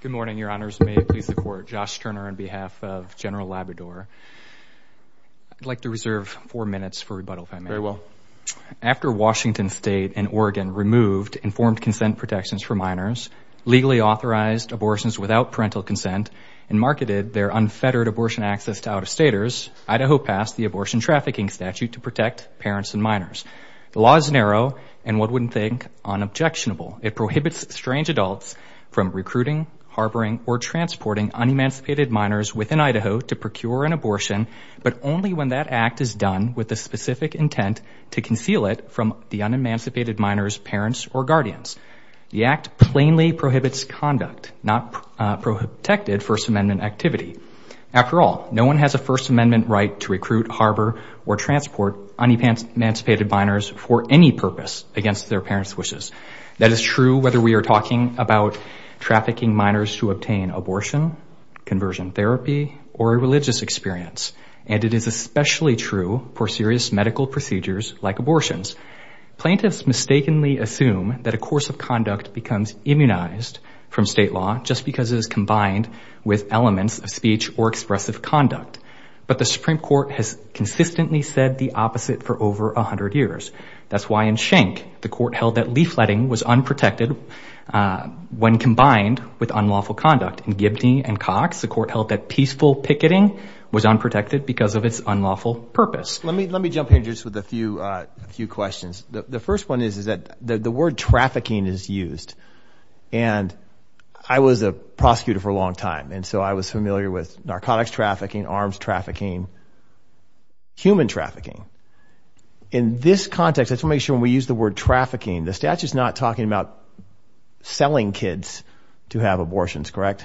Good morning, your honors. May it please the court. Josh Turner on behalf of General Labrador. I'd like to reserve four minutes for rebuttal. Very well. After Washington State and Oregon removed informed consent protections for minors, legally authorized abortions without parental consent, and marketed their unfettered abortion access to out-of-staters, Idaho passed the abortion trafficking statute to protect parents and minors. The law is narrow and one wouldn't think unobjectionable. It prohibits strange adults from recruiting, harboring, or transporting unemancipated minors within Idaho to procure an abortion, but only when that act is done with the specific intent to conceal it from the unemancipated minors' parents or guardians. The act plainly prohibits conduct, not protected First Amendment activity. After all, no one has a First Amendment right to recruit, harbor, or transport unemancipated minors for any purpose against their parents' wishes. That is true whether we are talking about trafficking minors to obtain abortion, conversion therapy, or a religious experience, and it is especially true for serious medical procedures like abortions. Plaintiffs mistakenly assume that a course of conduct becomes immunized from state law just because it is combined with elements of speech or expressive conduct, but the Supreme Court has consistently said the opposite for over a hundred years. That's why in Schenck, the court held that leafletting was unprotected when combined with unlawful conduct. In Gibney and Cox, the court held that peaceful picketing was unprotected because of its unlawful purpose. Let me jump in just with a few questions. The first one is that the word trafficking is used, and I was a prosecutor for a long time, and so I was familiar with narcotics trafficking, arms trafficking, human trafficking. In this context, let's make sure when we use the word trafficking, the statute is not talking about selling kids to have abortions, correct?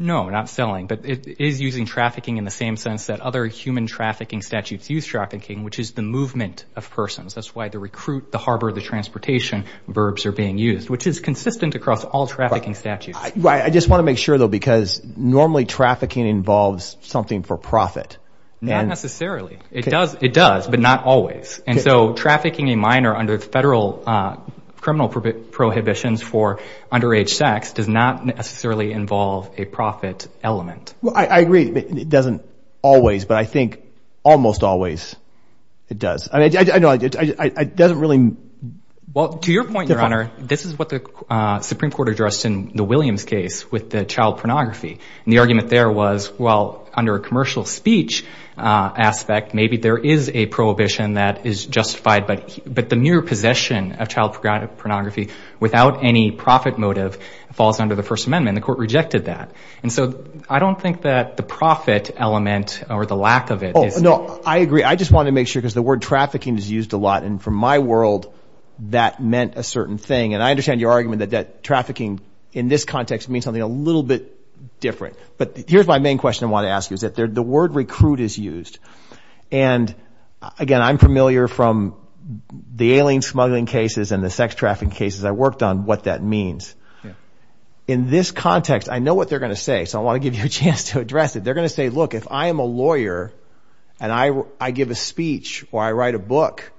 No, not selling, but it is using trafficking in the same sense that other human trafficking statutes use trafficking, which is the movement of persons. That's why the recruit, the harbor, the transportation verbs are being used, which is consistent across all trafficking statutes. I just want to make sure, though, because normally trafficking involves something for profit. Not necessarily. It does, but not always, and so trafficking a minor under the federal criminal prohibitions for underage sex does not necessarily involve a profit element. Well, I agree. It doesn't always, but I think almost always it does. I know it doesn't really... Well, to your point, Your Honor, this is what the Supreme Court addressed in the Williams case with the child pornography, and the argument there was, well, under a commercial speech aspect, maybe there is a prohibition that is justified, but the mere possession of child pornography without any profit motive falls under the First Amendment. The court rejected that, and so I don't think that the profit element or the lack of it... No, I agree. I just want to make sure because the word trafficking is used a lot, and from my world, that meant a certain thing, and I understand your argument that trafficking in this is something a little bit different, but here's my main question I want to ask you, is that the word recruit is used, and again, I'm familiar from the alien smuggling cases and the sex trafficking cases I worked on, what that means. In this context, I know what they're going to say, so I want to give you a chance to address it. They're going to say, look, if I am a lawyer and I give a speech or I write a book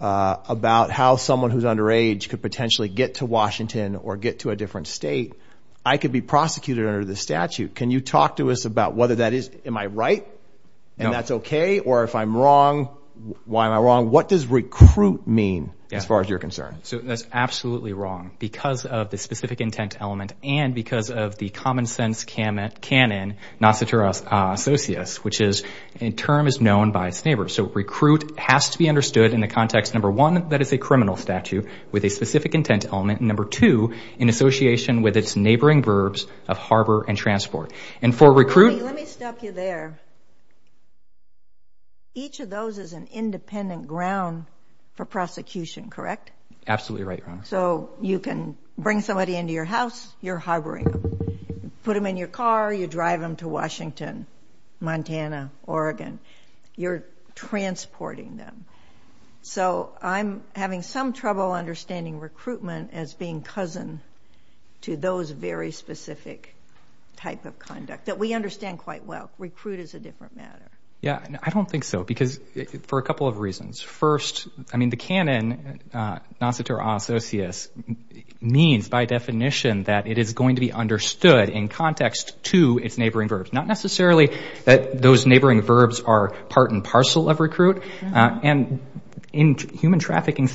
about how someone who's underage could potentially get to Washington or get to a different state, I could be prosecuted under the statute. Can you talk to us about whether that is, am I right, and that's okay, or if I'm wrong, why am I wrong? What does recruit mean as far as your concern? So that's absolutely wrong because of the specific intent element and because of the common-sense canon, Nociturus Associus, which is a term is known by its neighbors. So recruit has to be understood in the specific intent element, number two, in association with its neighboring verbs of harbor and transport. And for recruit... Let me stop you there. Each of those is an independent ground for prosecution, correct? Absolutely right, Your Honor. So you can bring somebody into your house, you're harboring them. Put them in your car, you drive them to Washington, Montana, Oregon. You're transporting them. So I'm having some trouble understanding recruitment as being cousin to those very specific type of conduct that we understand quite well. Recruit is a different matter. Yeah, I don't think so because for a couple of reasons. First, I mean, the canon, Nociturus Associus, means by definition that it is going to be understood in context to its neighboring verbs. Not necessarily that those neighboring verbs are part and parcel of the trafficking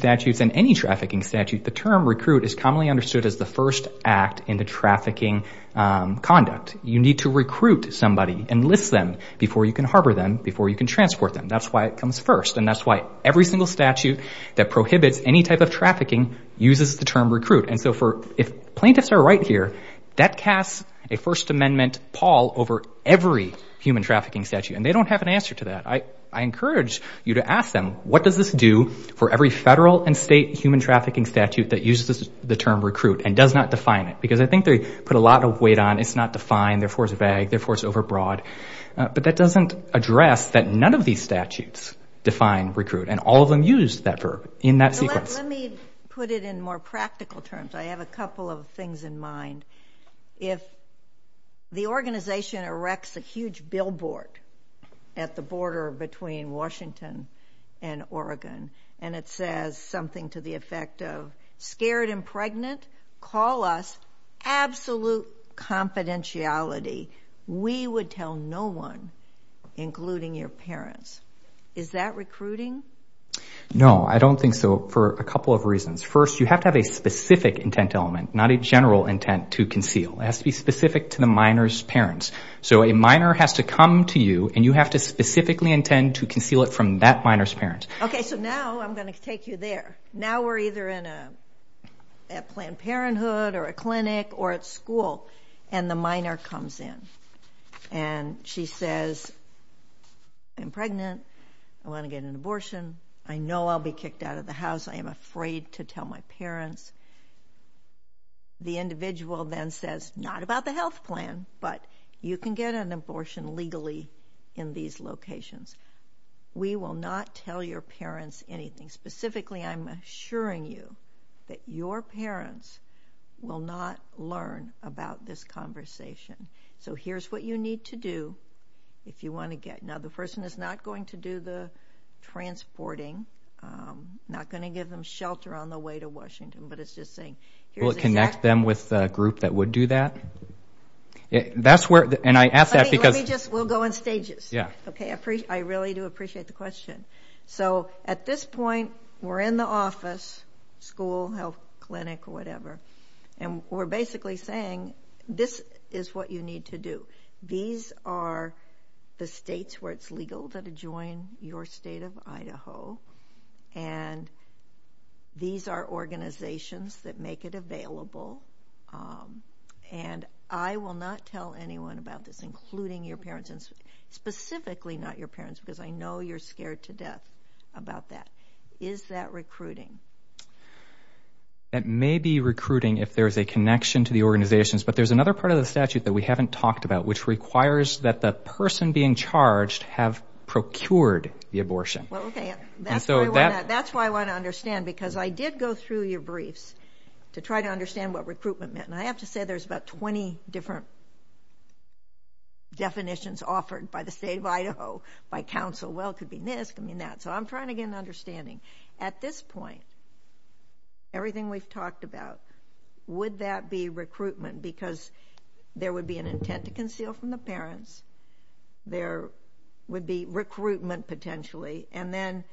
statute. The term recruit is commonly understood as the first act in the trafficking conduct. You need to recruit somebody, enlist them before you can harbor them, before you can transport them. That's why it comes first. And that's why every single statute that prohibits any type of trafficking uses the term recruit. And so if plaintiffs are right here, that casts a First Amendment pall over every human trafficking statute. And they don't have an answer to that. I encourage you to ask them, what does this do for every federal and state human trafficking statute that uses the term recruit and does not define it? Because I think they put a lot of weight on it's not defined, therefore it's vague, therefore it's over broad. But that doesn't address that none of these statutes define recruit. And all of them use that verb in that sequence. Let me put it in more practical terms. I have a couple of things in mind. If the organization erects a huge billboard at the border between Washington and Oregon and it says something to the effect of, scared and pregnant? Call us. Absolute confidentiality. We would tell no one, including your parents. Is that recruiting? No, I don't think so for a couple of reasons. First, you have to have a specific intent element, not a general intent to conceal. It has to be specific to the minor's parents. So a minor has to come to you and you have to specifically intend to conceal it from that minor's parents. Okay, so now I'm going to take you there. Now we're either in a Planned Parenthood or a clinic or at school and the minor comes in and she says, I'm pregnant. I want to get an abortion. I know I'll be kicked out of the house. I am afraid to tell my parents. The individual then says, not about the health plan, but you can get an abortion legally in these locations. We will not tell your parents anything. Specifically, I'm assuring you that your parents will not learn about this conversation. So here's what you need to do if you want to get. Now the person is not going to do the transporting, not going to give them shelter on the way to Washington, but it's just saying. Will it connect them with the group that would do that? That's we'll go in stages. Yeah. Okay. I really do appreciate the question. So at this point, we're in the office, school, health clinic or whatever, and we're basically saying this is what you need to do. These are the states where it's legal to join your state of Idaho. And these are organizations that make it specifically not your parents, because I know you're scared to death about that. Is that recruiting? That may be recruiting if there's a connection to the organizations, but there's another part of the statute that we haven't talked about, which requires that the person being charged have procured the abortion. That's why I want to understand, because I did go through your briefs to try to understand what recruitment meant. And I have to say there's about 20 different definitions offered by the state of Idaho by Council. Well, it could be missed. I mean, that's I'm trying to get an understanding at this point. Everything we've talked about. Would that be recruitment? Because there would be an intent to conceal from the parents. There would be recruitment potentially. And then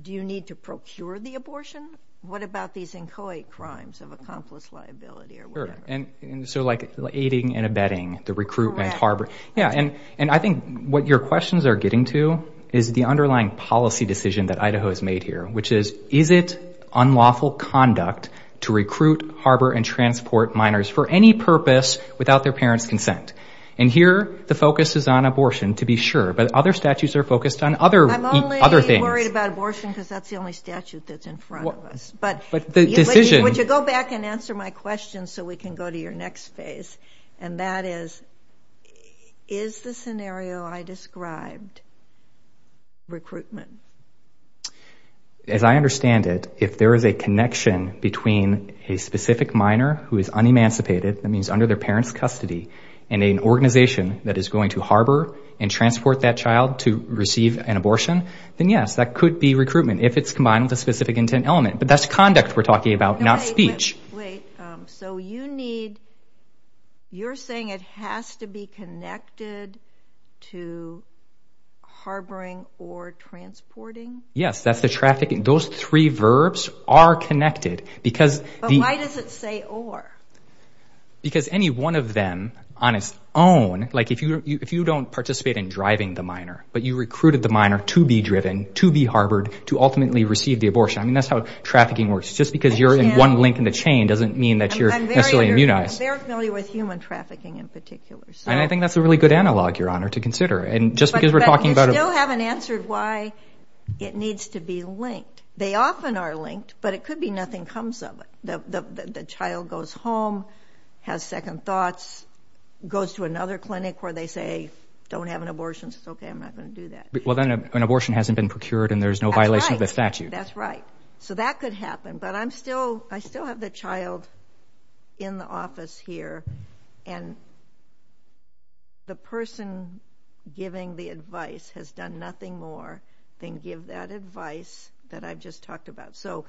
do you need to procure the abortion? What about these inchoate crimes of accomplice liability or whatever? And so like aiding and abetting the recruitment harbor. Yeah. And I think what your questions are getting to is the underlying policy decision that Idaho has made here, which is, is it unlawful conduct to recruit, harbor, and transport minors for any purpose without their parents' consent? And here, the focus is on abortion, to be sure, but other statutes are focused on other things. I'm only worried about abortion, because that's the only statute that's in front of us. But the decision... Would you go back and answer my question so we can go to your next phase? And that is, is the scenario I described recruitment? As I understand it, if there is a connection between a specific minor who is unemancipated, that means under their parents' custody, and an organization that is going to harbor and transport that child to receive an abortion, then yes, that could be recruitment if it's combined with a specific intent element, but that's conduct we're talking about, not speech. Wait, so you need... You're saying it has to be connected to harboring or transporting? Yes, that's the traffic... Those three verbs are connected, because... But why does it say or? Because any one of them on its own, like if you don't participate in driving the minor, but you recruited the minor to be driven, to be harbored, to ultimately receive the abortion. I mean, that's how trafficking works. Just because you're in one link in the chain doesn't mean that you're necessarily immunized. I'm very familiar with human trafficking in particular. And I think that's a really good analog, Your Honor, to consider. And just because we're talking about... But you still haven't answered why it needs to be linked. They often are linked, but it could be nothing comes of it. The child goes home, has second thoughts, goes to another clinic where they say, don't have an abortion, it's okay, I'm not gonna do that. Well, then an abortion hasn't been procured and there's no violation of the statute. That's right. So that could happen, but I'm still... I still have the child in the office here, and the person giving the advice has done nothing more than give that advice that I've just talked about. So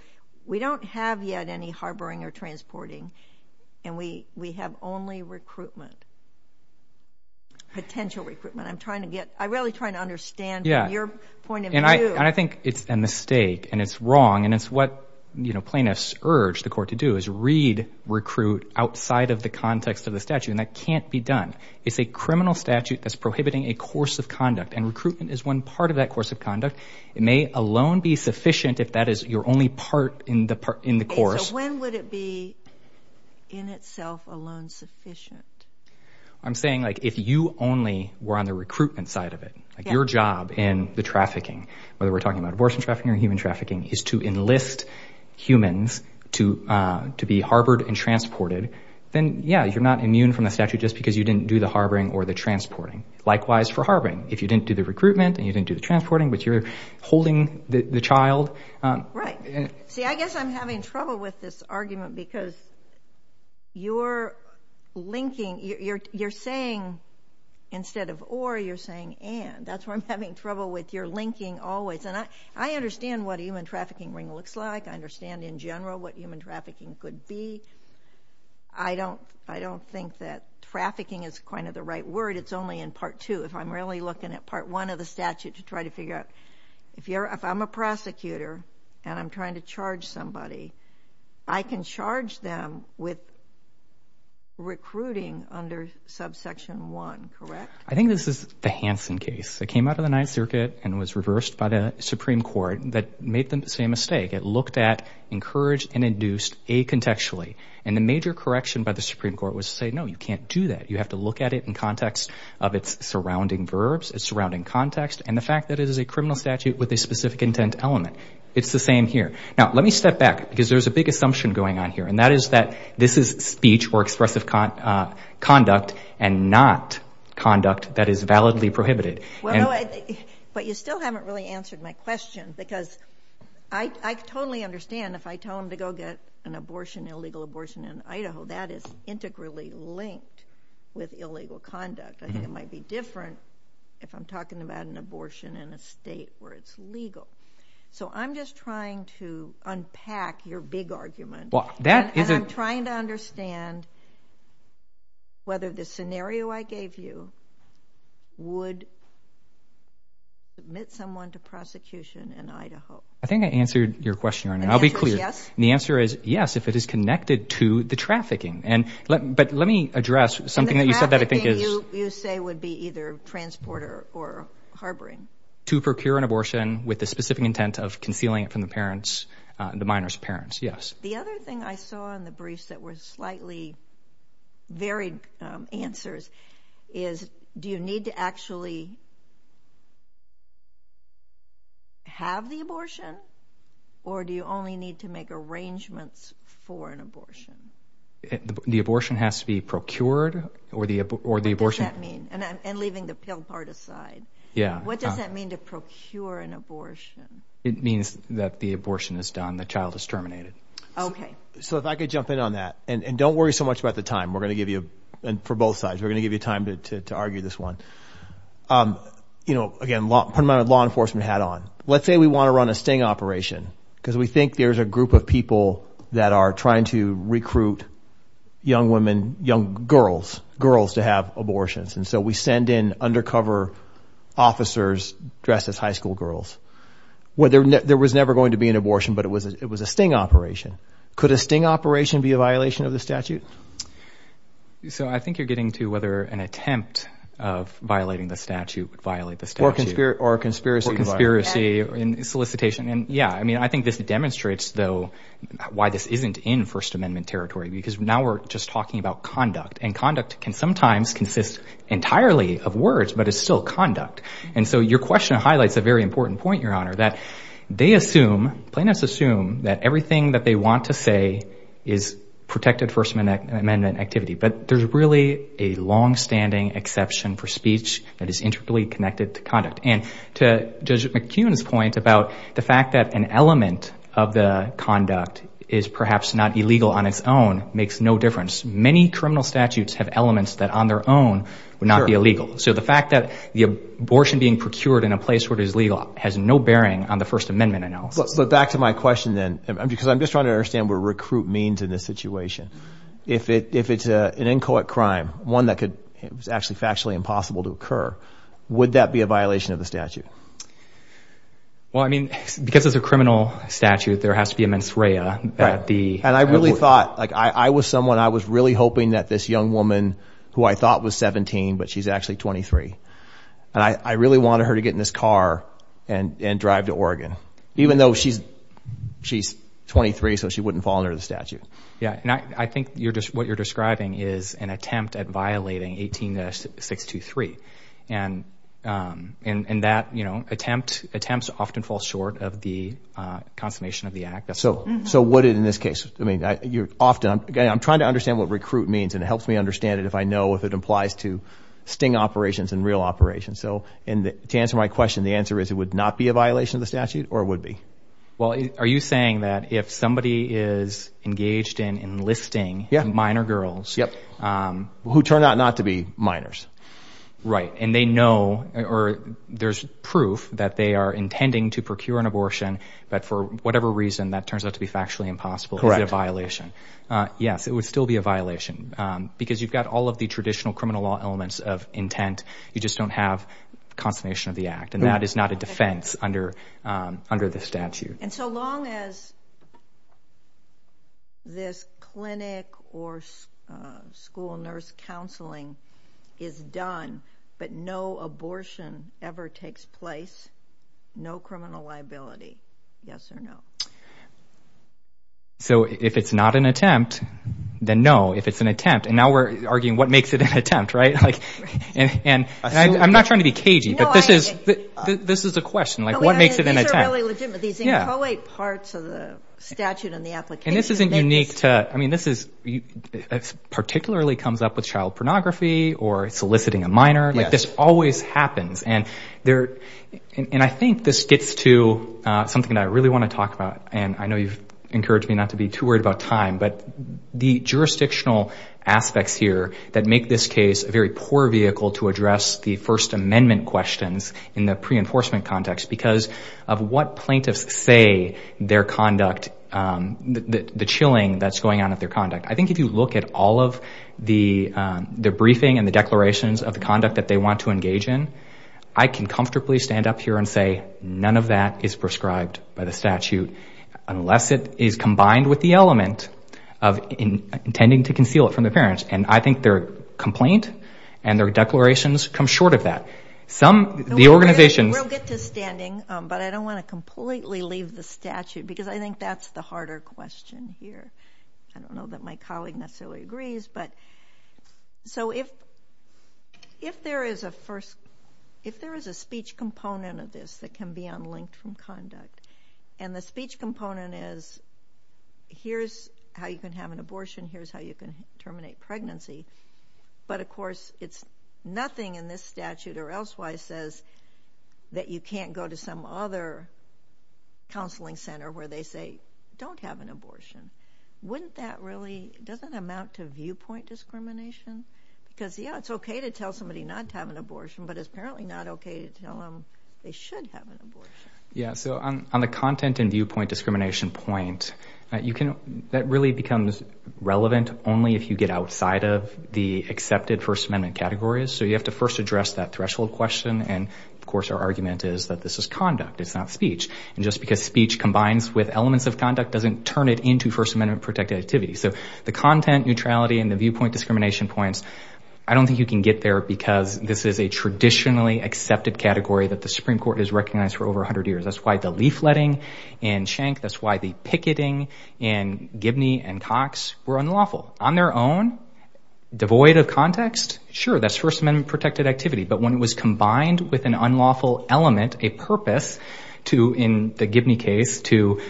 we don't have yet any harboring or transporting, and we have only recruitment, potential recruitment. I'm trying to get... I'm really trying to understand from your point of view. And I think it's a mistake and it's wrong, and it's what plaintiffs urge the court to do, is read recruit outside of the context of the statute, and that can't be done. It's a criminal statute that's prohibiting a course of conduct, and recruitment is one part of that course of conduct. It may alone be sufficient if that is your only part in the course. Okay, so when would it be in itself alone sufficient? I'm saying if you only were on the recruitment side of it, your job in the trafficking, whether we're talking about abortion trafficking or human trafficking, is to enlist humans to be harbored and transported, then yeah, you're not immune from the statute just because you didn't do the harboring or the transporting. Likewise for harboring, if you didn't do the recruitment and you didn't do the transporting, but you're holding the child... Right. See, I guess I'm having trouble with this argument because you're linking... You're saying, instead of or, you're saying and. That's where I'm having trouble with your linking always. And I understand what a human trafficking ring looks like. I understand in general what human trafficking could be. I don't think that trafficking is kind of the right word. It's only in part two. If I'm really looking at part one of the statute to try to figure out... If I'm a prosecutor and I'm a human trafficker, I can charge them with recruiting under subsection one, correct? I think this is the Hansen case. It came out of the Ninth Circuit and was reversed by the Supreme Court that made the same mistake. It looked at, encouraged, and induced a contextually. And the major correction by the Supreme Court was to say, no, you can't do that. You have to look at it in context of its surrounding verbs, its surrounding context, and the fact that it is a criminal statute with a specific intent element. It's the same here. Now, let me step back, because there's a big assumption going on here, and that is that this is speech or expressive conduct, and not conduct that is validly prohibited. Well, no, but you still haven't really answered my question, because I totally understand if I tell them to go get an abortion, illegal abortion in Idaho, that is integrally linked with illegal conduct. I think it might be different if I'm talking about an abortion in a state where it's legal. So I'm just trying to unpack your big argument, and I'm trying to understand whether the scenario I gave you would admit someone to prosecution in Idaho. I think I answered your question, Your Honor. I'll be clear. The answer is yes, if it is connected to the trafficking. But let me address something that you said that I think is... And the trafficking, you say, would be either transporter or harboring. To procure an abortion with the specific intent of concealing it from the parents, the minor's parents, yes. The other thing I saw in the briefs that were slightly varied answers is, do you need to actually have the abortion, or do you only need to make arrangements for an abortion? The abortion has to be procured, or the abortion... What does that mean? I'm putting the pill part aside. Yeah. What does that mean to procure an abortion? It means that the abortion is done, the child is terminated. Okay. So if I could jump in on that, and don't worry so much about the time, we're gonna give you... And for both sides, we're gonna give you time to argue this one. Again, put my law enforcement hat on. Let's say we wanna run a sting operation, because we think there's a group of people that are trying to recruit young women, young girls, girls to have abortions. And so we send in undercover officers dressed as high school girls. There was never going to be an abortion, but it was a sting operation. Could a sting operation be a violation of the statute? So I think you're getting to whether an attempt of violating the statute would violate the statute. Or a conspiracy violation. Or a conspiracy solicitation. And yeah, I think this demonstrates, though, why this isn't in First Amendment territory, because now we're just talking about conduct. And conduct can sometimes consist entirely of words, but it's still conduct. And so your question highlights a very important point, Your Honor, that they assume, plaintiffs assume that everything that they want to say is protected First Amendment activity. But there's really a long standing exception for speech that is integrally connected to conduct. And to Judge McKeon's point about the fact that an element of the criminal statutes have elements that on their own would not be illegal. So the fact that the abortion being procured in a place where it is legal has no bearing on the First Amendment analysis. But back to my question then, because I'm just trying to understand what recruit means in this situation. If it's an inchoate crime, one that could... It was actually factually impossible to occur, would that be a violation of the statute? Well, I mean, because it's a criminal statute, there has to be a mens rea at the... And I really thought... I was someone, I was really hoping that this young woman, who I thought was 17, but she's actually 23. And I really wanted her to get in this car and drive to Oregon, even though she's 23, so she wouldn't fall under the statute. Yeah, and I think what you're describing is an attempt at violating 18.623. And that attempt often falls short of the consternation of the act. So would it in this case? I mean, you're often... Again, I'm trying to understand what recruit means, and it helps me understand it if I know if it implies to sting operations and real operations. So to answer my question, the answer is, it would not be a violation of the statute, or it would be. Well, are you saying that if somebody is engaged in enlisting minor girls... Yeah. Who turn out not to be minors. Right. And they know, or there's proof that they are intending to procure an abortion, but for whatever reason, that turns out to be factually impossible. Correct. Is it a violation? Yes, it would still be a violation, because you've got all of the traditional criminal law elements of intent, you just don't have consternation of the act. And that is not a defense under the statute. And so long as this clinic or school nurse counseling is done, but no abortion ever takes place, no criminal liability, yes or no? So if it's not an attempt, then no, if it's an attempt, and now we're arguing what makes it an attempt, right? And I'm not trying to be cagey, but this is a question, like what makes it an attempt? These are really legitimate, these inchoate parts of the statute and the application. And this isn't unique to... I mean, this is... Particularly comes up with child pornography or soliciting a minor, this always happens. And I think this gets to something that I really wanna talk about, and I know you've encouraged me not to be too worried about time, but the jurisdictional aspects here that make this case a very poor vehicle to address the First Amendment questions in the pre enforcement context, because of what plaintiffs say their conduct, the chilling that's going on with their conduct. I think if you look at all of the briefing and the declarations of the conduct that they want to engage in, I can comfortably stand up here and say none of that is prescribed by the statute, unless it is combined with the element of intending to conceal it from the parents. And I think their complaint and their declarations come short of that. Some, the organizations... We'll get to standing, but I don't wanna completely leave the statute, because I think that's the harder question here. I don't know that my colleague necessarily agrees, but... So if there is a first... If there is a speech component of this that can be unlinked from conduct, and the speech component is, here's how you can have an abortion, here's how you can terminate pregnancy, but of course, it's nothing in this statute or else where it says that you can't go to some other counseling center where they say, don't have an abortion. Wouldn't that really... Doesn't amount to viewpoint discrimination? Because yeah, it's okay to tell somebody not to have an abortion, but it's apparently not okay to tell them they should have an abortion. Yeah, so on the content and viewpoint discrimination point, that really becomes relevant only if you get outside of the accepted First Amendment categories. So you have to first address that threshold question, and of course, our argument is that this is conduct, it's not speech. And just because speech combines with elements of conduct doesn't turn it into First Amendment protected activity. So the content neutrality and the viewpoint discrimination points, I don't think you can get there because this is a traditionally accepted category that the Supreme Court has recognized for over 100 years. That's why the leafletting in Schenck, that's why the picketing in Gibney and Cox were unlawful. On their own, devoid of context, sure, that's First Amendment protected activity. But when it was combined with an unlawful element, a purpose to, in the Gibney case, to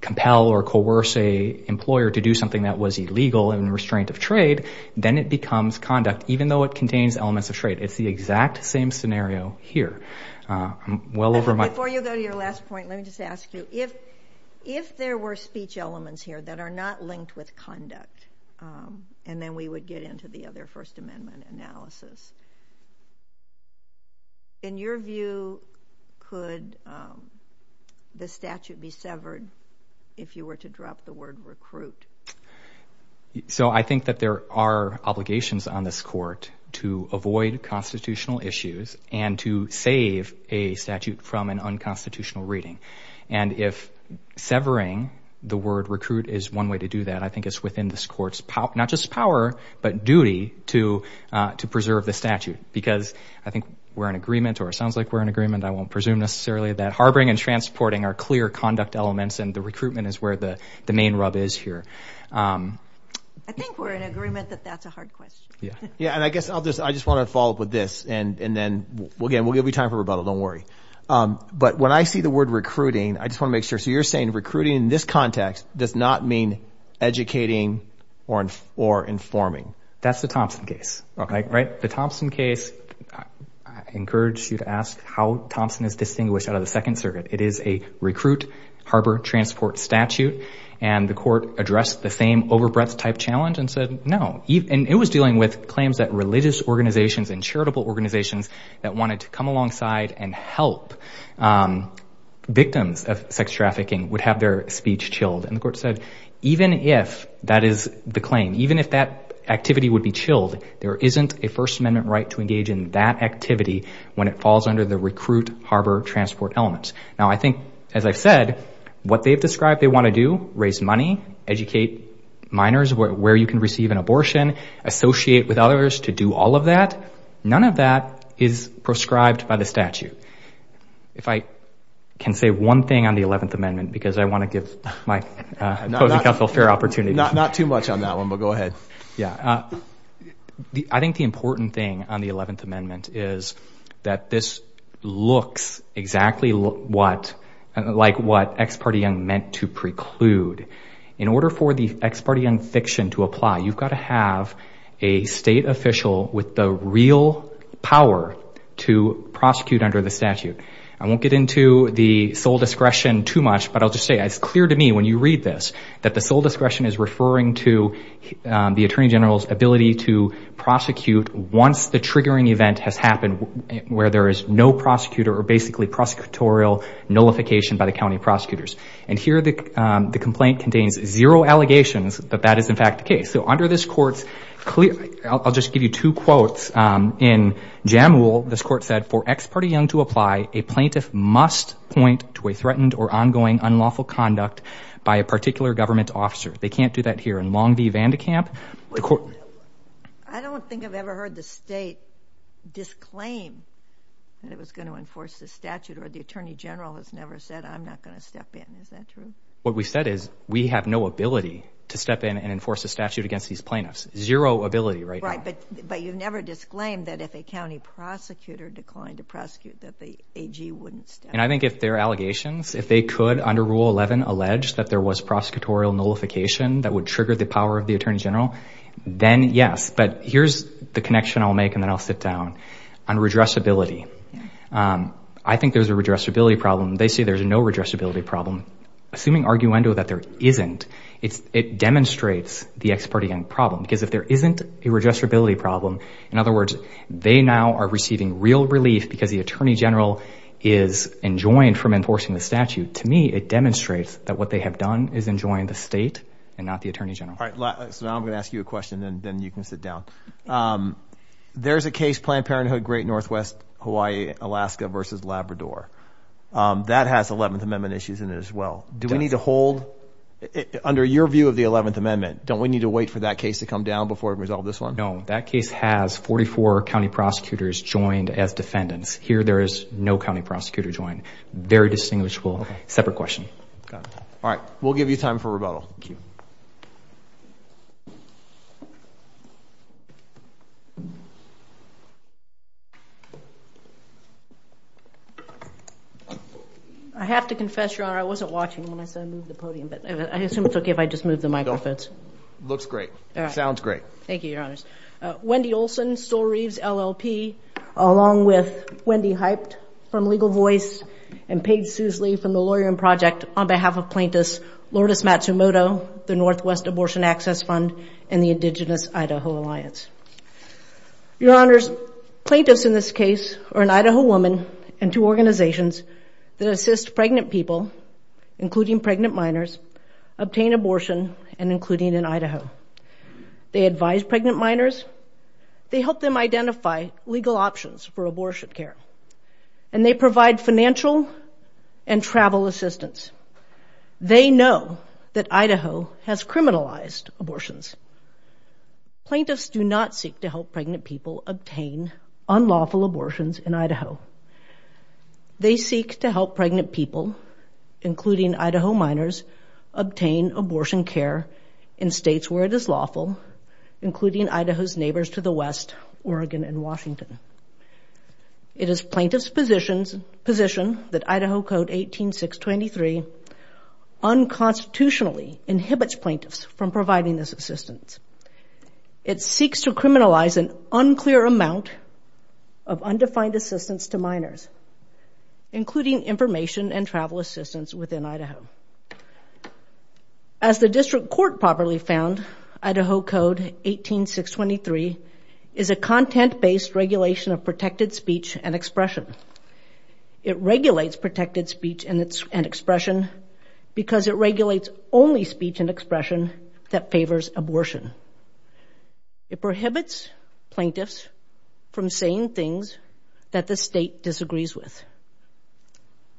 compel or coerce a employer to do something that was illegal and restraint of trade, then it becomes conduct, even though it contains elements of trade. It's the exact same scenario here. I'm well over my... Before you go to your last point, let me just ask you, if there were speech elements here that are not linked with conduct, and then we would get into the other First Amendment analysis. In your view, could the statute be severed if you were to drop the word recruit? So I think that there are obligations on this court to avoid constitutional issues and to save a statute from an unconstitutional reading. And if severing the word recruit is one way to do that, I think it's within this court's power, not just power, but duty, to preserve the statute. Because I think we're in agreement, or it sounds like we're in agreement, I won't presume necessarily, that harboring and transporting are clear conduct elements and the recruitment is where the main rub is here. I think we're in agreement that that's a hard question. Yeah. Yeah, and I guess I'll just... I just want to follow up with this and then, again, we'll give you time for rebuttal, don't worry. But when I see the word recruiting, I just want to make sure. So you're saying recruiting in this context does not mean educating or informing? That's the Thompson case, right? The Thompson case, I encourage you to ask how Thompson is distinguished out of the Second Circuit. It is a recruit, harbor, transport statute. And the court addressed the same over breadth type challenge and said, no. And it was dealing with claims that religious organizations and charitable organizations that wanted to come alongside and help victims of sex trafficking would have their speech chilled. And the court said, even if that is the claim, even if that activity would be chilled, there isn't a First Amendment right to engage in that activity when it falls under the recruit, harbor, transport elements. Now, I think, as I've said, what they've described they want to do, raise money, educate minors where you can receive an abortion, associate with others to do all of that. None of that is prescribed by the statute. If I can say one thing on the 11th Amendment, because I want to give my opposing counsel a fair opportunity. Not too much on that one, but go ahead. Yeah. I think the important thing on the 11th Amendment is that this looks exactly like what ex parte young meant to preclude. In order for the ex parte young fiction to apply, you've got to have a state official with the real power to prosecute under the statute. I won't get into the sole discretion too much, but I'll just say it's clear to me when you read this that the sole discretion is referring to the Attorney General's ability to prosecute once the triggering event has happened where there is no prosecutor or basically prosecutorial nullification by the county prosecutors. And here the complaint contains zero allegations that that is in fact the case. So under this court's clear... I'll just give you two quotes. In Jamwool, this court said, for ex parte young to apply, a plaintiff must point to a threatened or ongoing unlawful conduct by a particular government officer. They can't do that here. In Longview-Vandekamp, the court... I don't think I've ever heard the state disclaim that it was going to enforce this statute, or the Attorney General has never said, I'm not going to step in. Is that true? What we said is we have no ability to step in and enforce a statute against these plaintiffs. Zero ability right now. Right, but you've never disclaimed that if a county prosecutor declined to prosecute that the AG wouldn't step in. And I think if there are allegations, if they could, under Rule 11, allege that there was prosecutorial nullification that would trigger the power of the Attorney General, then yes. But here's the connection I'll make, and then I'll sit down, on redressability. I think there's a redressability problem. They say there's no redressability problem. Assuming arguendo that there isn't, it demonstrates the ex-parte problem. Because if there isn't a redressability problem, in other words, they now are receiving real relief because the Attorney General is enjoined from enforcing the statute. To me, it demonstrates that what they have done is enjoined the state and not the Attorney General. All right, so now I'm going to ask you a question, and then you can sit down. There's a case, Planned Parenthood, Great Northwest Hawaii, Alaska versus Labrador. That has 11th Amendment issues in it as well. Do we need to hold... Under your view of the 11th Amendment, don't we need to wait for that case to come down before we resolve this one? No, that case has 44 county prosecutors joined as defendants. Here, there is no county prosecutor joined. Very distinguishable. Separate question. Got it. All right, we'll give you time for rebuttal. Thank you. I have to confess, Your Honor, I wasn't watching when I said move the podium, but I assume it's okay if I just move the microphones. Looks great. Sounds great. Thank you, Your Honors. Wendy Olson, Store Reeves LLP, along with Wendy Hyped from Legal Voice and Paige Suesley from the Lawyer in Project, on behalf of plaintiffs, Lourdes Matsumoto, the Northwest Abortion Access Fund, and the Indigenous Idaho Alliance. Your Honors, plaintiffs in this case are an Idaho woman and two organizations that assist pregnant people, including pregnant minors, obtain abortion, and including in Idaho. They advise pregnant minors, they help them identify legal options for abortion care, and they provide financial and travel assistance. They know that Idaho has criminalized abortions. Plaintiffs do not seek to help pregnant people obtain unlawful abortions in Idaho. They seek to help pregnant people, including Idaho minors, obtain abortion care in states where it is lawful, including Idaho's neighbors to the west, Oregon and Washington. It is plaintiff's position that Idaho Code 18.623 unconstitutionally inhibits plaintiffs from providing this assistance. It seeks to criminalize an unclear amount of undefined assistance to minors, including information and travel assistance within Idaho. As the District Court properly found, Idaho Code 18.623 is a content-based regulation of protected speech and expression. It regulates protected speech and expression because it favors abortion. It prohibits plaintiffs from saying things that the state disagrees with.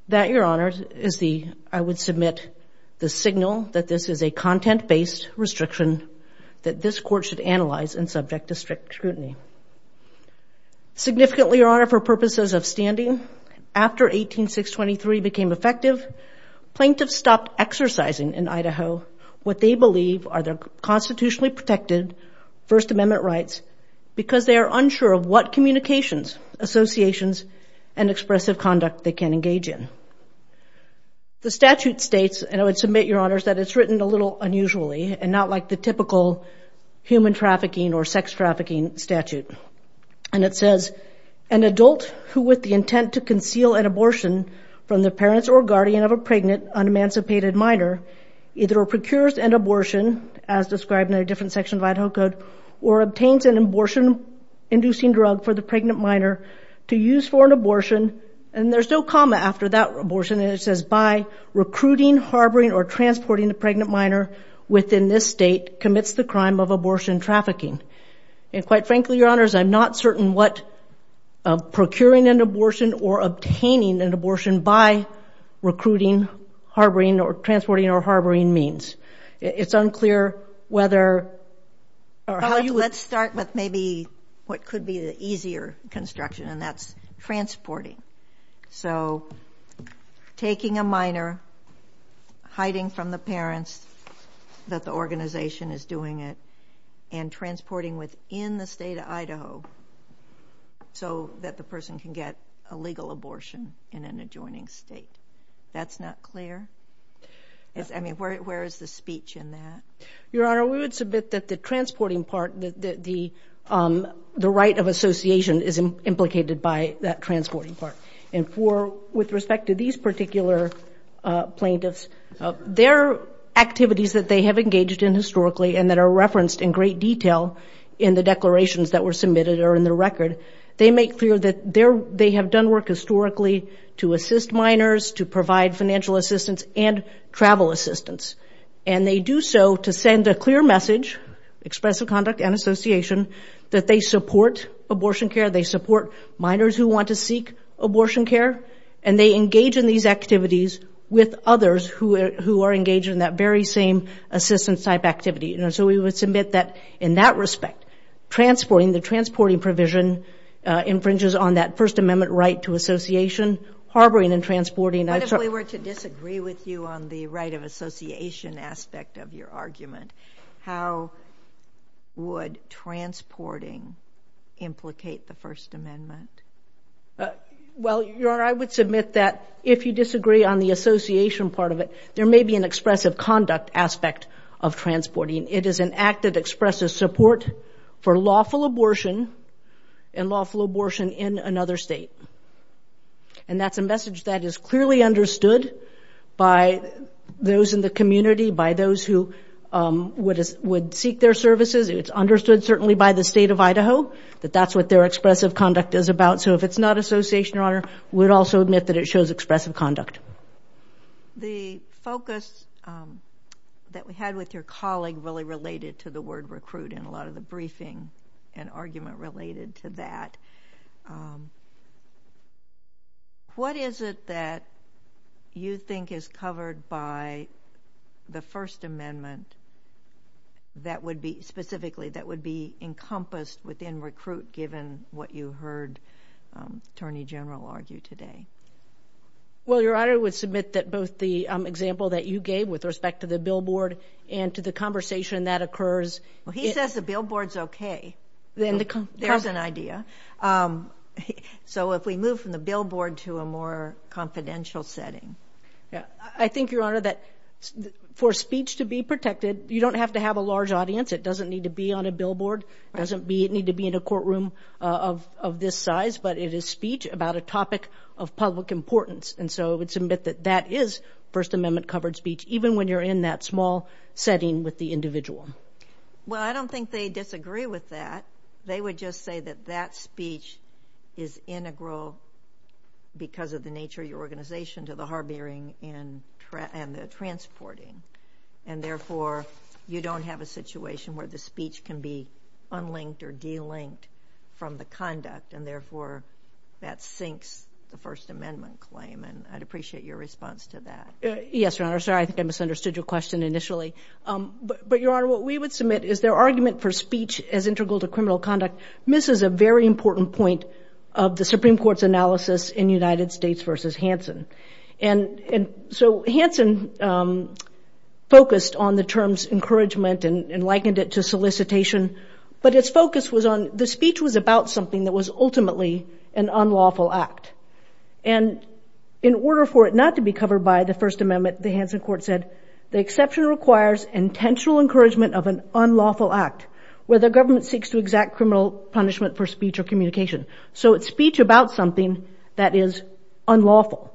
That, Your Honor, is the, I would submit, the signal that this is a content-based restriction that this Court should analyze and subject to strict scrutiny. Significantly, Your Honor, for purposes of standing, after 18.623 became effective, plaintiffs stopped exercising in Idaho what they believe are their constitutionally protected First Amendment rights because they are unsure of what communications, associations, and expressive conduct they can engage in. The statute states, and I would submit, Your Honors, that it's written a little unusually and not like the typical human trafficking or sex trafficking statute. And it says, an adult who with the intent to conceal an abortion from the parents or guardian of a pregnant, unemancipated minor, either procures an abortion, as described in a different section of Idaho Code, or obtains an abortion-inducing drug for the pregnant minor to use for an abortion, and there's no comma after that abortion, and it says, by recruiting, harboring, or transporting the pregnant minor within this state commits the crime of abortion trafficking. And quite frankly, Your Honors, I'm not certain what procuring an abortion or obtaining an abortion by recruiting, harboring, or transporting, or harboring means. It's unclear whether... Let's start with maybe what could be the easier construction, and that's transporting. So taking a minor, hiding from the parents that the organization is doing it, and transporting within the state of Idaho so that the person can get a legal abortion in an adjoining state. That's not clear? I mean, where is the speech in that? Your Honor, we would submit that the transporting part, that the right of association is implicated by that transporting part. And with respect to these particular plaintiffs, their activities that they have engaged in historically, and that are referenced in great detail in the declarations that were submitted or in the record, they make clear that they have done work historically to assist minors, to provide financial assistance, and travel assistance. And they do so to send a clear message, expressive conduct and association, that they support abortion care, they support minors who want to seek abortion care, and they engage in these activities with others who are engaged in that very same assistance type activity. And so we would submit that in that respect, transporting, the transporting provision infringes on that First Amendment right to association, harboring and transporting... But if we were to disagree with you on the right of association aspect of your argument, how would transporting implicate the First Amendment? Well, Your Honor, I would submit that if you disagree on the association part of it, there may be an expressive conduct aspect of transporting. It is an act that expresses support for lawful abortion and lawful abortion in another state. And that's a message that is clearly understood by those in the community, by those who would seek their services. It's understood certainly by the state of Idaho that that's what their expressive conduct is about. So if it's not association, Your Honor, we would also admit that it shows expressive conduct. The focus that we had with your colleague really related to the word recruit in a lot of the briefing and argument related to that. What is it that you think is covered by the First Amendment that would be, specifically, that would be encompassed within recruit given what you heard Attorney General argue today? Well, Your Honor, I would submit that both the example that you gave with respect to the billboard and to the conversation that occurs... So if we move from the billboard to a more confidential setting... I think, Your Honor, that for speech to be protected, you don't have to have a large audience. It doesn't need to be on a billboard. It doesn't need to be in a courtroom of this size, but it is speech about a topic of public importance. And so I would submit that that is First Amendment-covered speech, even when you're in that small setting with the individual. Well, I don't think they disagree with that. They would just say that that speech is integral because of the nature of your organization to the harboring and the transporting. And therefore, you don't have a situation where the speech can be unlinked or delinked from the conduct. And therefore, that sinks the First Amendment claim. And I'd appreciate your response to that. Yes, Your Honor. Sorry, I think I misunderstood your question initially. But, Your Honor, what we would submit is their argument for speech as integral to criminal conduct misses a very important point of the Supreme Court's analysis in United States v. Hansen. And so Hansen focused on the terms encouragement and likened it to solicitation. But its focus was on... the speech was about something that was ultimately an unlawful act. And in order for it not to be covered by the First Amendment, the Hansen Court said, the exception requires intentional encouragement of an unlawful act where the government seeks to exact criminal punishment for speech or communication. So it's speech about something that is unlawful.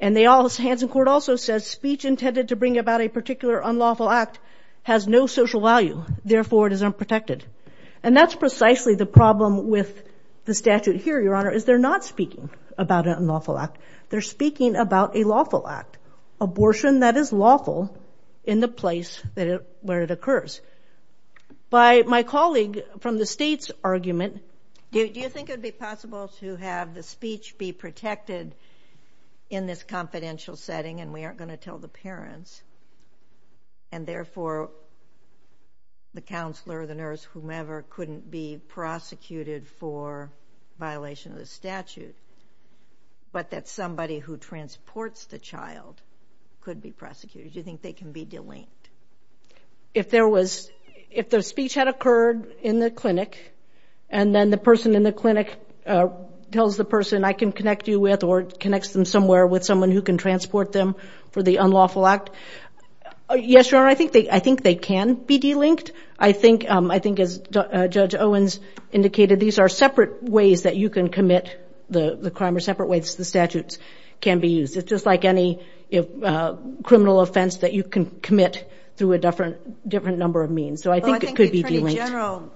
And the Hansen Court also says speech intended to bring about a particular unlawful act has no social value. Therefore, it is unprotected. And that's precisely the problem with the statute here, Your Honor, is they're not speaking about an unlawful act. They're speaking about a lawful act, abortion that is lawful in the place where it occurs. By my colleague from the state's argument... Do you think it would be possible to have the speech be protected in this confidential setting and we aren't going to tell the parents? And therefore, the counselor, the nurse, whomever, couldn't be prosecuted for violation of the statute. But that somebody who transports the child could be prosecuted. Do you think they can be delinked? If there was... If the speech had occurred in the clinic, and then the person in the clinic tells the person, I can connect you with or connects them somewhere with someone who can transport them for the unlawful act. Yes, Your Honor, I think they can be delinked. I think, as Judge Owens indicated, these are separate ways that you can commit the crime or separate ways the statutes can be used. It's just like any criminal offense that you can commit through a different number of means. So I think it could be delinked.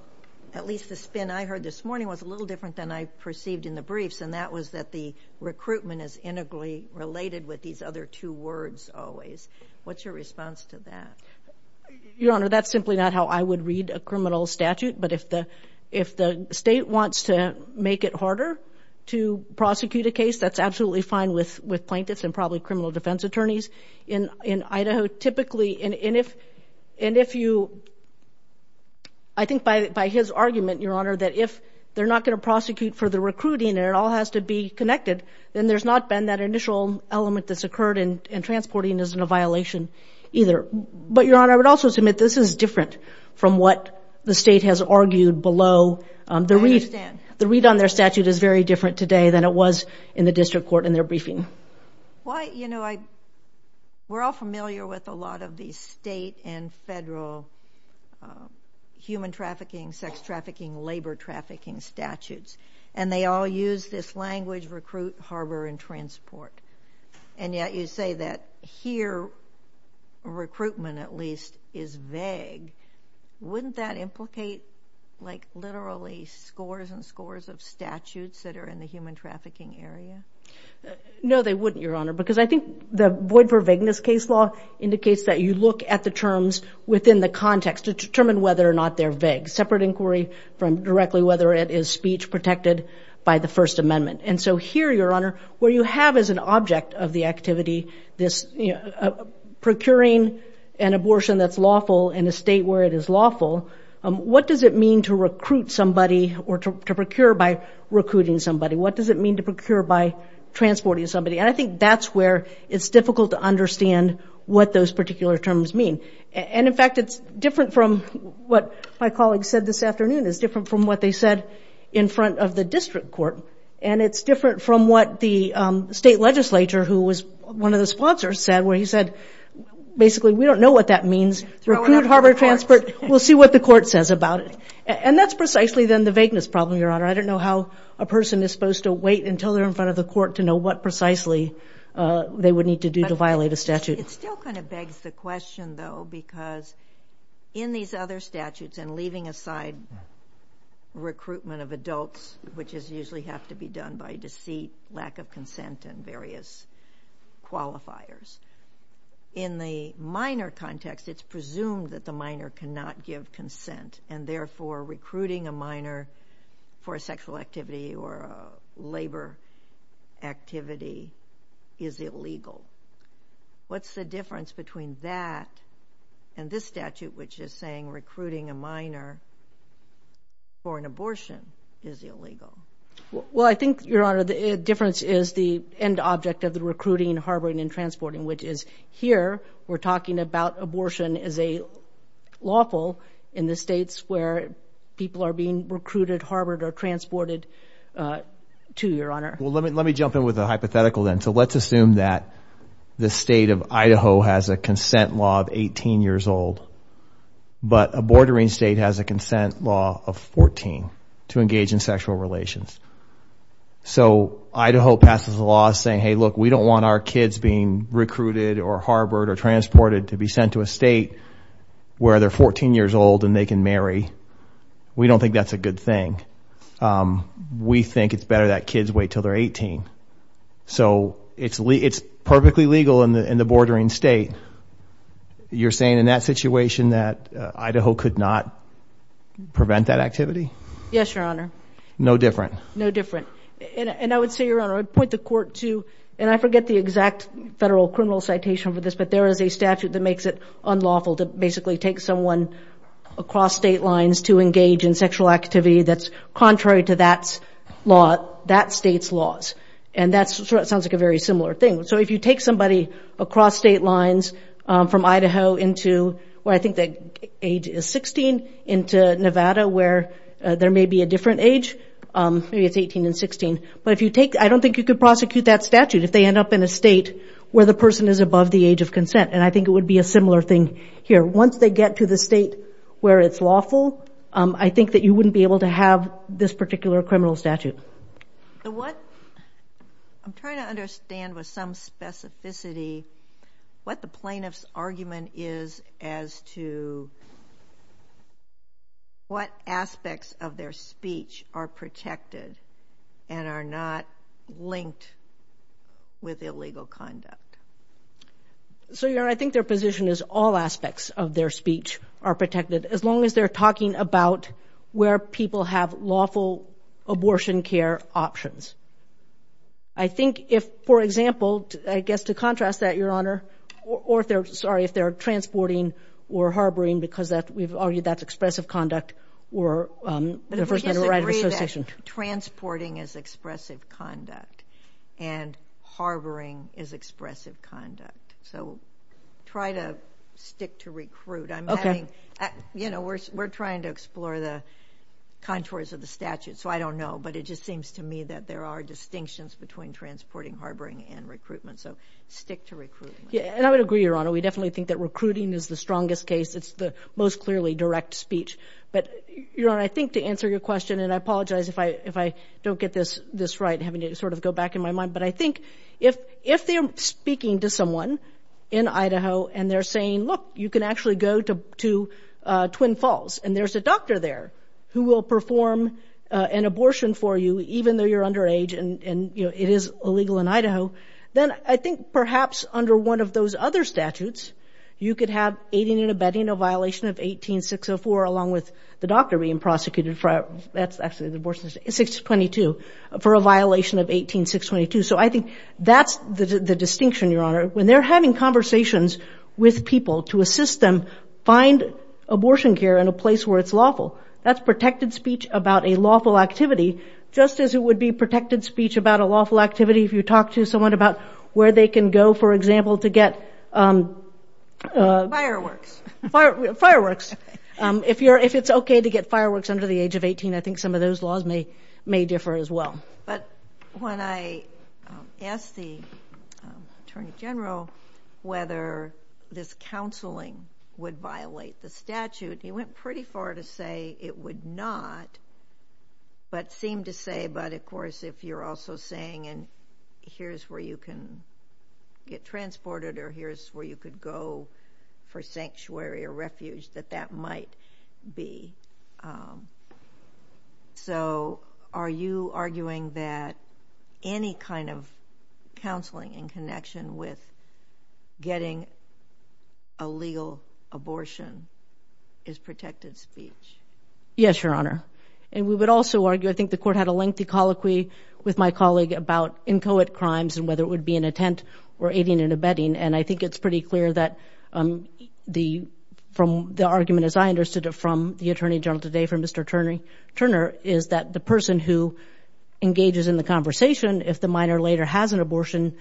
At least the spin I heard this morning was a little different than I perceived in the briefs, and that was that the recruitment is integrally related with these other two words always. What's your response to that? Your Honor, that's simply not how I would read a criminal statute. But if the state wants to make it harder to prosecute a case, that's absolutely fine with plaintiffs and probably criminal defense attorneys in Idaho. Typically, and if you... I think by his argument, Your Honor, that if they're not going to prosecute for the recruiting, and it all has to be connected, then there's not been that initial element that's occurred, and transporting isn't a violation either. But, Your Honor, I would also submit this is different from what the state has argued below. I understand. The read on their statute is very different today than it was in the district court in their briefing. Well, you know, we're all familiar with a lot of these state and federal human trafficking, sex trafficking, labor trafficking statutes, and they all use this language, recruit, harbor, and transport. And yet you say that here recruitment at least is vague. Wouldn't that implicate like literally scores and scores of statutes that are in the human trafficking area? No, they wouldn't, Your Honor, because I think the void for vagueness case law indicates that you look at the terms within the context to determine whether or not they're vague. Separate inquiry from directly whether it is speech protected by the First Amendment. And so here, Your Honor, where you have as an object of the activity this procuring an abortion that's lawful in a state where it is lawful, what does it mean to recruit somebody or to procure by recruiting somebody? What does it mean to procure by transporting somebody? And I think that's where it's difficult to understand what those particular terms mean. And in fact, it's different from what my colleague said this afternoon. It's different from what they said in front of the district court. And it's different from what the state legislature who was one of the sponsors said, where he said, basically, we don't know what that means. Recruit, harbor, transport, we'll see what the court says about it. And that's precisely then the vagueness problem, Your Honor. I don't know how a person is supposed to wait until they're in front of the court to know what precisely they would need to do to violate a statute. It still kind of begs the question, though, because in these other statutes, and leaving aside recruitment of adults, which usually have to be done by deceit, lack of consent, and various qualifiers, in the minor context, it's presumed that the minor cannot give consent. And therefore, recruiting a minor for a sexual activity or a labor activity is illegal. What's the difference between that and this statute, which is saying recruiting a minor for an abortion is illegal? Well, I think, Your Honor, the difference is the end object of the recruiting, harboring, and transporting, which is here, we're talking about abortion as a lawful in the states where people are being recruited, harbored, or transported to, Your Honor. Well, let me jump in with a hypothetical then. So let's assume that the state of Idaho has a consent law of 18 years old, but a bordering state has a consent law of 14 to engage in sexual relations. So Idaho passes a law saying, hey, look, we don't want our kids being recruited, or harbored, or transported to be sent to a state where they're 14 years old and they can marry. We don't think that's a good thing. We think it's better that kids wait until they're 18. So it's perfectly legal in the bordering state. You're saying in that situation that Idaho could not prevent that activity? Yes, Your Honor. No different? No different. And I would say, Your Honor, I'd point the court to, and I forget the exact federal criminal citation for this, but there is a statute that makes it unlawful to basically take someone across state lines to engage in sexual activity that's contrary to that state's laws. And that sounds like a very similar thing. So if you take somebody across state lines from Idaho into where I think the age is 16, into Nevada where there may be a different age, maybe it's 18 and 16, but if you take, I don't think you could prosecute that statute if they end up in a state where the person is above the age of consent. And I think it would be a similar thing here. Once they get to the state where it's lawful, I think that you wouldn't be able to have this particular criminal statute. So what, I'm trying to understand with some specificity, what the plaintiff's argument is as to what aspects of their speech are protected and are not linked with illegal conduct. So, Your Honor, I think their position is all aspects of their speech are protected as long as they're talking about where people have lawful abortion care options. I think if, for example, I guess to contrast that, Your Honor, or if they're, sorry, if they're transporting or harboring, because that, we've argued that's expressive conduct, or the First Amendment right of association. Transporting is expressive conduct, and harboring is expressive conduct. So try to stick to recruit. I'm having, you know, we're trying to explore the contours of the statute, so I don't know, but it just seems to me that there are distinctions between transporting, harboring, and recruitment. So stick to recruiting. Yeah, and I would agree, Your Honor. We definitely think that recruiting is the strongest case. It's the most clearly direct speech. But, Your Honor, I think to answer your question, and I apologize if I don't get this right, having to sort of go back in my mind, but I think if they're speaking to someone in Idaho and they're saying, look, you can actually go to Twin Falls and there's a doctor there who will perform an abortion for you even though you're underage and, you know, it is illegal in Idaho, then I think perhaps under one of those other statutes, you could have aiding and abetting a violation of 18604 along with the doctor being prosecuted for, that's actually the abortion, 622, for a violation of 18622. So I think that's the distinction, Your Honor. When they're having conversations with people to assist them find abortion care in a place where it's lawful, that's protected speech about a lawful activity, just as it would be protected speech about a lawful activity if you talk to someone about where they can go, for example, to get... Fireworks. Fireworks. If it's okay to get fireworks under the age of 18, I think some of those laws may differ as well. But when I asked the Attorney General whether this counseling would violate the statute, he went pretty far to say it would not, but seemed to say, but, of course, if you're also saying, and here's where you can get transported, or here's where you could go for sanctuary or refuge, that that might be. So are you arguing that any kind of counseling in connection with getting a legal abortion is protected speech? Yes, Your Honor. And we would also argue, I think the Court had a lengthy colloquy with my colleague about inchoate crimes and whether it would be an intent or aiding and abetting. And I think it's pretty clear that the, from the argument as I understood it from the Attorney General today from Mr. Turner, is that the person who engages in the conversation, if the minor later has an abortion,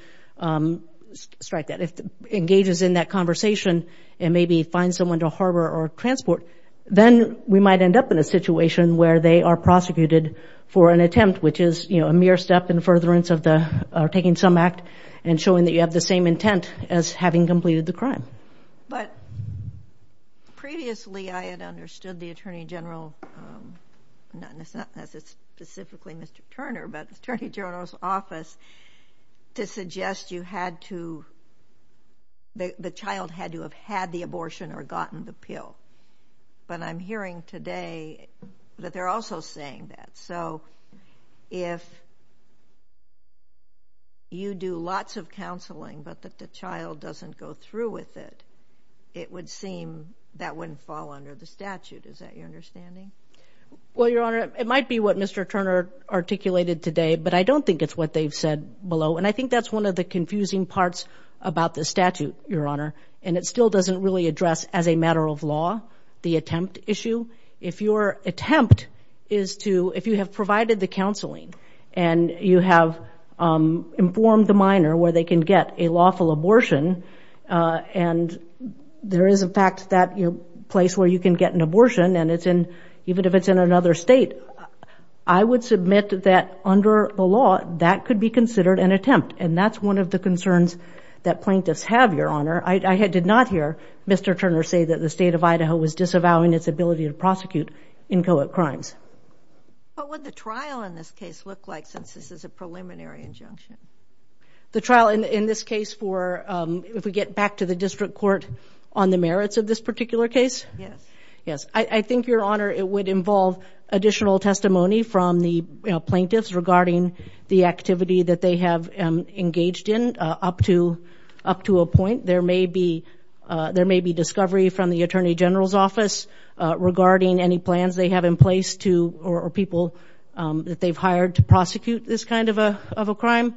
strike that, if engages in that conversation and maybe finds someone to harbor or transport, then we might end up in a situation where they are prosecuted for an attempt, which is, you know, a mere step in furtherance of the, or taking some act and showing that you have the same intent as having completed the crime. But previously I had understood the Attorney General, not specifically Mr. Turner, but the Attorney General's office to suggest you had to, the child had to have had the abortion or gotten the pill. But I'm hearing today that they're also saying that. So if you do lots of counseling but that the child doesn't go through with it, it would seem that wouldn't fall under the statute. Is that your understanding? Well, Your Honor, it might be what Mr. Turner articulated today, but I don't think it's what they've said below. And I think that's one of the confusing parts about the statute, Your Honor. And it still doesn't really address, as a matter of law, the attempt issue. If your attempt is to, if you have provided the counseling and you have informed the minor where they can get a lawful abortion and there is, in fact, that place where you can get an abortion and it's in, even if it's in another state, I would submit that under the law, that could be considered an attempt. And that's one of the concerns that plaintiffs have, Your Honor. I did not hear Mr. Turner say that the State of Idaho was disavowing its ability to prosecute inchoate crimes. What would the trial in this case look like since this is a preliminary injunction? The trial in this case for, if we get back to the district court on the merits of this particular case? Yes. Yes. I think, Your Honor, it would involve additional testimony from the plaintiffs regarding the activity that they have engaged in up to a point. There may be discovery from the Attorney General's Office regarding any plans they have in place to, or people that they've hired to prosecute this kind of a crime.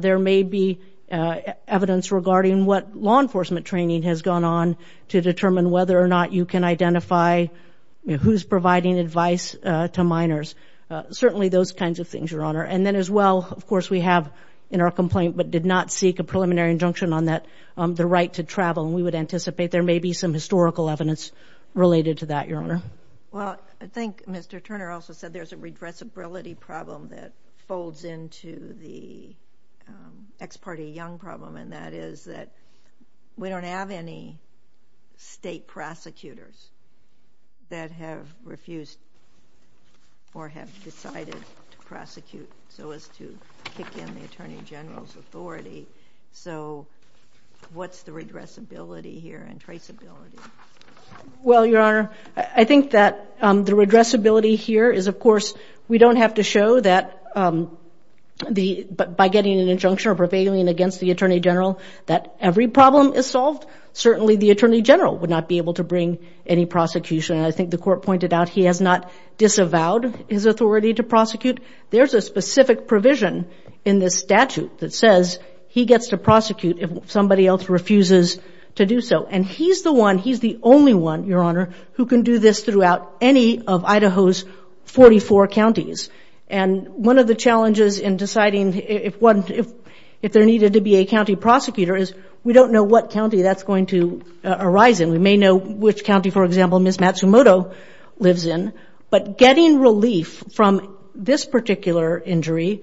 There may be evidence regarding what law enforcement training has gone on to determine whether or not you can identify who's providing advice to minors. Certainly those kinds of things, Your Honor. And then as well, of course, we have in our complaint, but did not seek a preliminary injunction on that, the right to travel. And we would anticipate there may be some historical evidence related to that, Your Honor. Well, I think Mr. Turner also said there's a redressability problem that folds into the ex parte young problem. And that is that we don't have any state prosecutors that have refused or have decided to prosecute so as to kick in the Attorney General's authority. So what's the redressability here and traceability? Well, Your Honor, I think that the redressability here is, of course, we don't have to show that by getting an injunction or prevailing against the Attorney General that every problem is solved. Certainly the Attorney General would not be able to bring any prosecution. And I think the court pointed out he has not disavowed his authority to prosecute. There's a specific provision in this statute that says he gets to prosecute if somebody else refuses to do so. And he's the one, he's the only one, Your Honor, who can do this throughout any of Idaho's 44 counties. And one of the challenges in deciding if there needed to be a county prosecutor is we don't know what county that's going to arise in. We may know which county, for example, Ms. Matsumoto lives in. But getting relief from this particular injury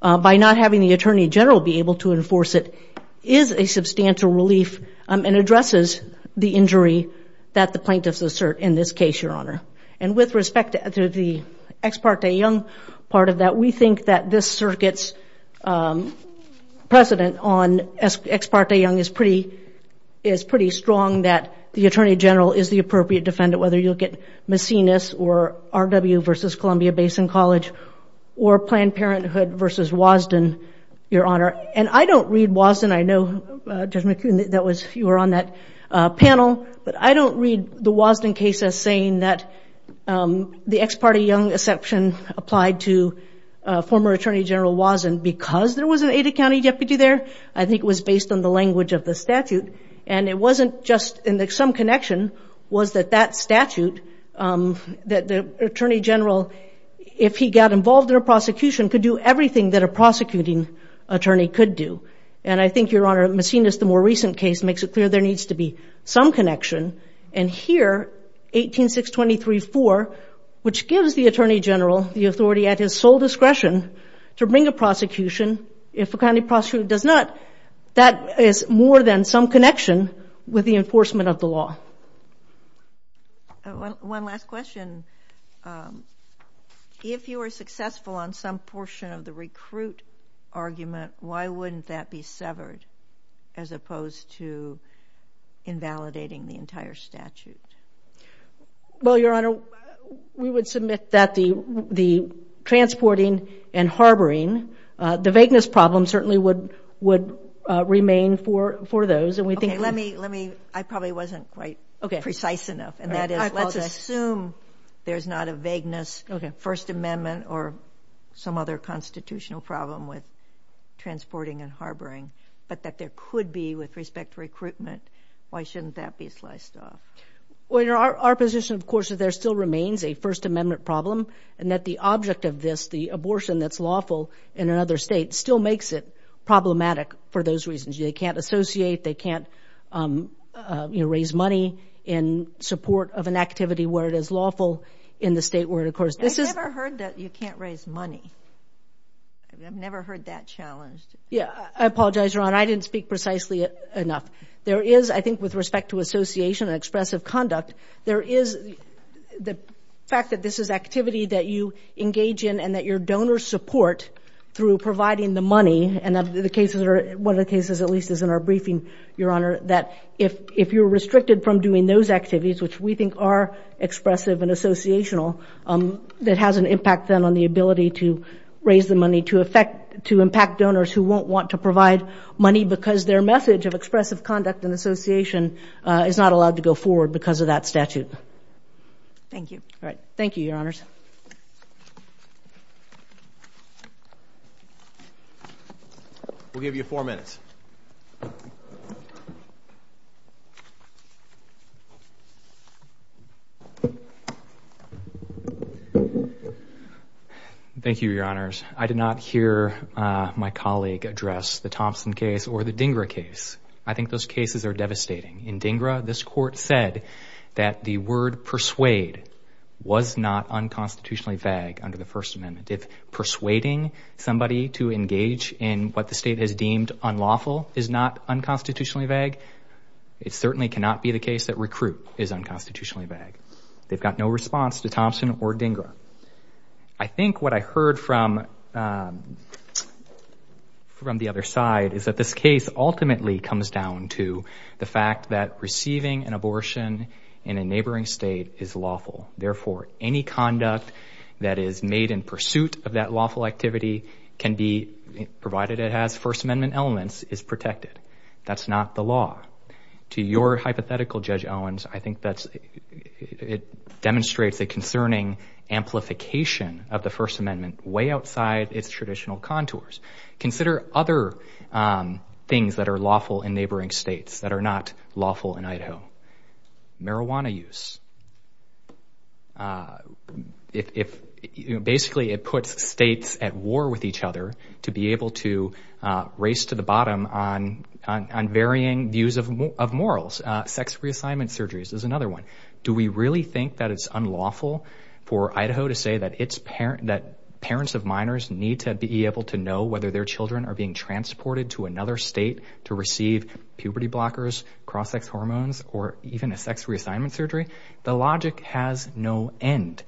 by not having the Attorney General be able to enforce it is a substantial relief and addresses the injury that the plaintiffs assert in this case, Your Honor. And with respect to the Ex parte Young part of that, we think that this circuit's precedent on Ex parte Young is pretty strong that the Attorney General is the appropriate defendant, whether you look at Macinus or R.W. versus Columbia Basin College or Planned Parenthood versus Wasden, Your Honor. And I don't read Wasden, I know Judge McKeown, you were on that panel, but I don't read the Wasden case as saying that the Ex parte Young exception applied to former Attorney General Wasden because there was an Ada County deputy there. I think it was based on the language of the statute. And it wasn't just in some connection was that that statute that the Attorney General, if he got involved in a prosecution, could do everything that a prosecuting attorney could do. And I think, Your Honor, Macinus, the more recent case, makes it clear there needs to be some connection. And here, 18.623.4, which gives the Attorney General the authority at his sole discretion to bring a prosecution, if a county prosecutor does not, that is more than some connection with the enforcement of the law. One last question. If you were successful on some portion of the recruit argument, why wouldn't that be severed as opposed to invalidating the entire statute? Well, Your Honor, we would submit that the transporting and harboring, the vagueness problem certainly would remain for those. Okay, let me, let me, I probably wasn't quite precise enough. And that is, let's assume there's not a vagueness First Amendment or some other constitutional problem with transporting and harboring, but that there could be with respect to recruitment. Why shouldn't that be sliced off? Well, Your Honor, our position, of course, is there still remains a First Amendment problem and that the object of this, the abortion that's lawful in another state, still makes it problematic for those reasons. They can't associate, they can't, you know, raise money in support of an activity where it is lawful in the state where it, of course, this is... I've never heard that you can't raise money. I've never heard that challenged. Yeah, I apologize, Your Honor. I didn't speak precisely enough. There is, I think, with respect to association and expressive conduct, there is the fact that this is activity that you engage in and that your donors support through providing the money and that the cases are, one of the cases at least is in our briefing, Your Honor, that if you're restricted from doing those activities, which we think are expressive and associational, that has an impact then on the ability to raise the money to affect, to impact donors who won't want to provide money because their message of expressive conduct and association is not allowed to go forward because of that statute. Thank you. All right. Thank you, Your Honors. We'll give you four minutes. Thank you, Your Honors. I did not hear my colleague address the Thompson case or the DINGRA case. I think those cases are devastating. In DINGRA, this court said that the word persuade was not unconstitutionally vague under the First Amendment. If persuading somebody to engage in what the state has deemed unlawful is not unconstitutionally vague, it certainly cannot be the case that recruit is unconstitutionally vague. They've got no response to Thompson or DINGRA. I think what I heard from the other side is that this case ultimately comes down to the fact that receiving an abortion in a neighboring state is lawful. Therefore, any conduct that is made in pursuit of that lawful activity can be, provided it has First Amendment elements, is protected. That's not the law. To your hypothetical, Judge Owens, I think it demonstrates a concerning amplification of the First Amendment way outside its traditional contours. Consider other things that are lawful in neighboring states that are not lawful in Idaho. Marijuana use. Basically, it puts states at war with each other to be able to race to the bottom on varying views of morals. Sex reassignment surgeries is another one. Do we really think that it's unlawful for Idaho to say that parents of minors need to be able to know whether their children are being transported to another state to receive puberty blockers, cross-sex hormones, or even a sex reassignment surgery? The logic has no end.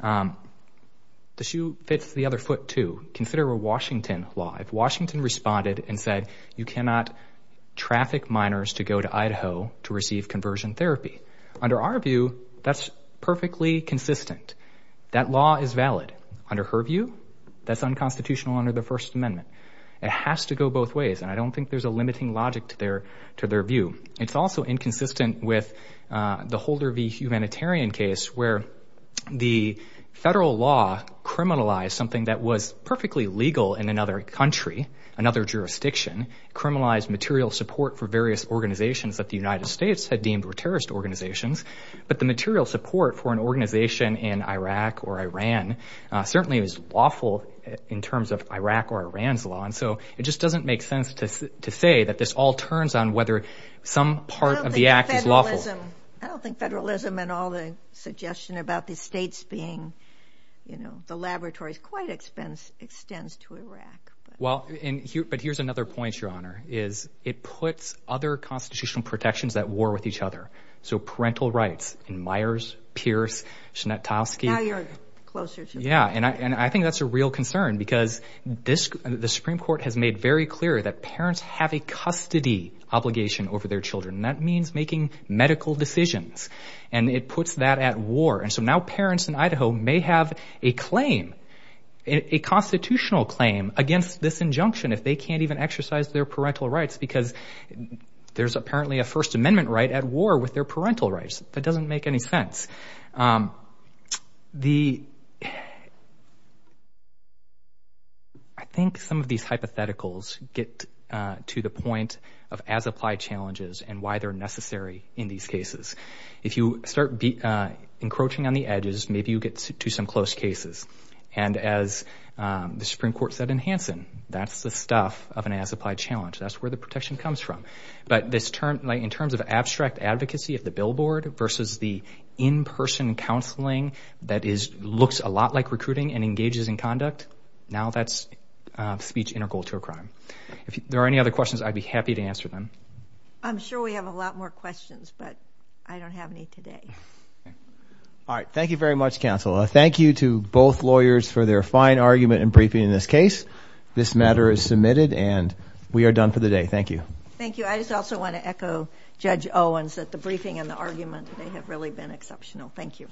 The shoe fits the other foot, too. Consider a Washington law. If Washington responded and said, you cannot traffic minors to go to Idaho to receive conversion therapy, under our view, that's perfectly consistent. That law is valid. Under her view, that's unconstitutional under the First Amendment. It has to go both ways, and I don't think there's a limiting logic to their view. It's also inconsistent with the Holder v. Humanitarian case where the federal law criminalized something that was perfectly legal in another country, another jurisdiction, criminalized material support for various organizations that the United States had deemed were terrorist organizations, but the material support for an organization in Iraq or Iran certainly is lawful in terms of Iraq or Iran's law, and so it just doesn't make sense to say that this all turns on whether some part of the act is lawful. I don't think federalism and all the suggestion about the states being, you know, the laboratories quite extends to Iraq. Well, but here's another point, Your Honor, is it puts other constitutional protections at war with each other. So parental rights in Myers, Pierce, Schnettowski. Now you're closer to that. Yeah, and I think that's a real concern because the Supreme Court has made very clear that parents have a custody obligation over their children, and that means making medical decisions, and it puts that at war. And so now parents in Idaho may have a claim, a constitutional claim, against this injunction if they can't even exercise their parental rights because there's apparently a First Amendment right at war with their parental rights. That doesn't make any sense. I think some of these hypotheticals get to the point of as-applied challenges and why they're necessary in these cases. If you start encroaching on the edges, maybe you get to some close cases. And as the Supreme Court said in Hansen, that's the stuff of an as-applied challenge. That's where the protection comes from. But in terms of abstract advocacy of the billboard versus the in-person counseling that looks a lot like recruiting and engages in conduct, now that's speech integral to a crime. If there are any other questions, I'd be happy to answer them. I'm sure we have a lot more questions, but I don't have any today. All right, thank you very much, counsel. Thank you to both lawyers for their fine argument and briefing in this case. This matter is submitted and we are done for the day. Thank you. Thank you. I just also want to echo Judge Owens at the briefing and the argument. They have really been exceptional. Thank you.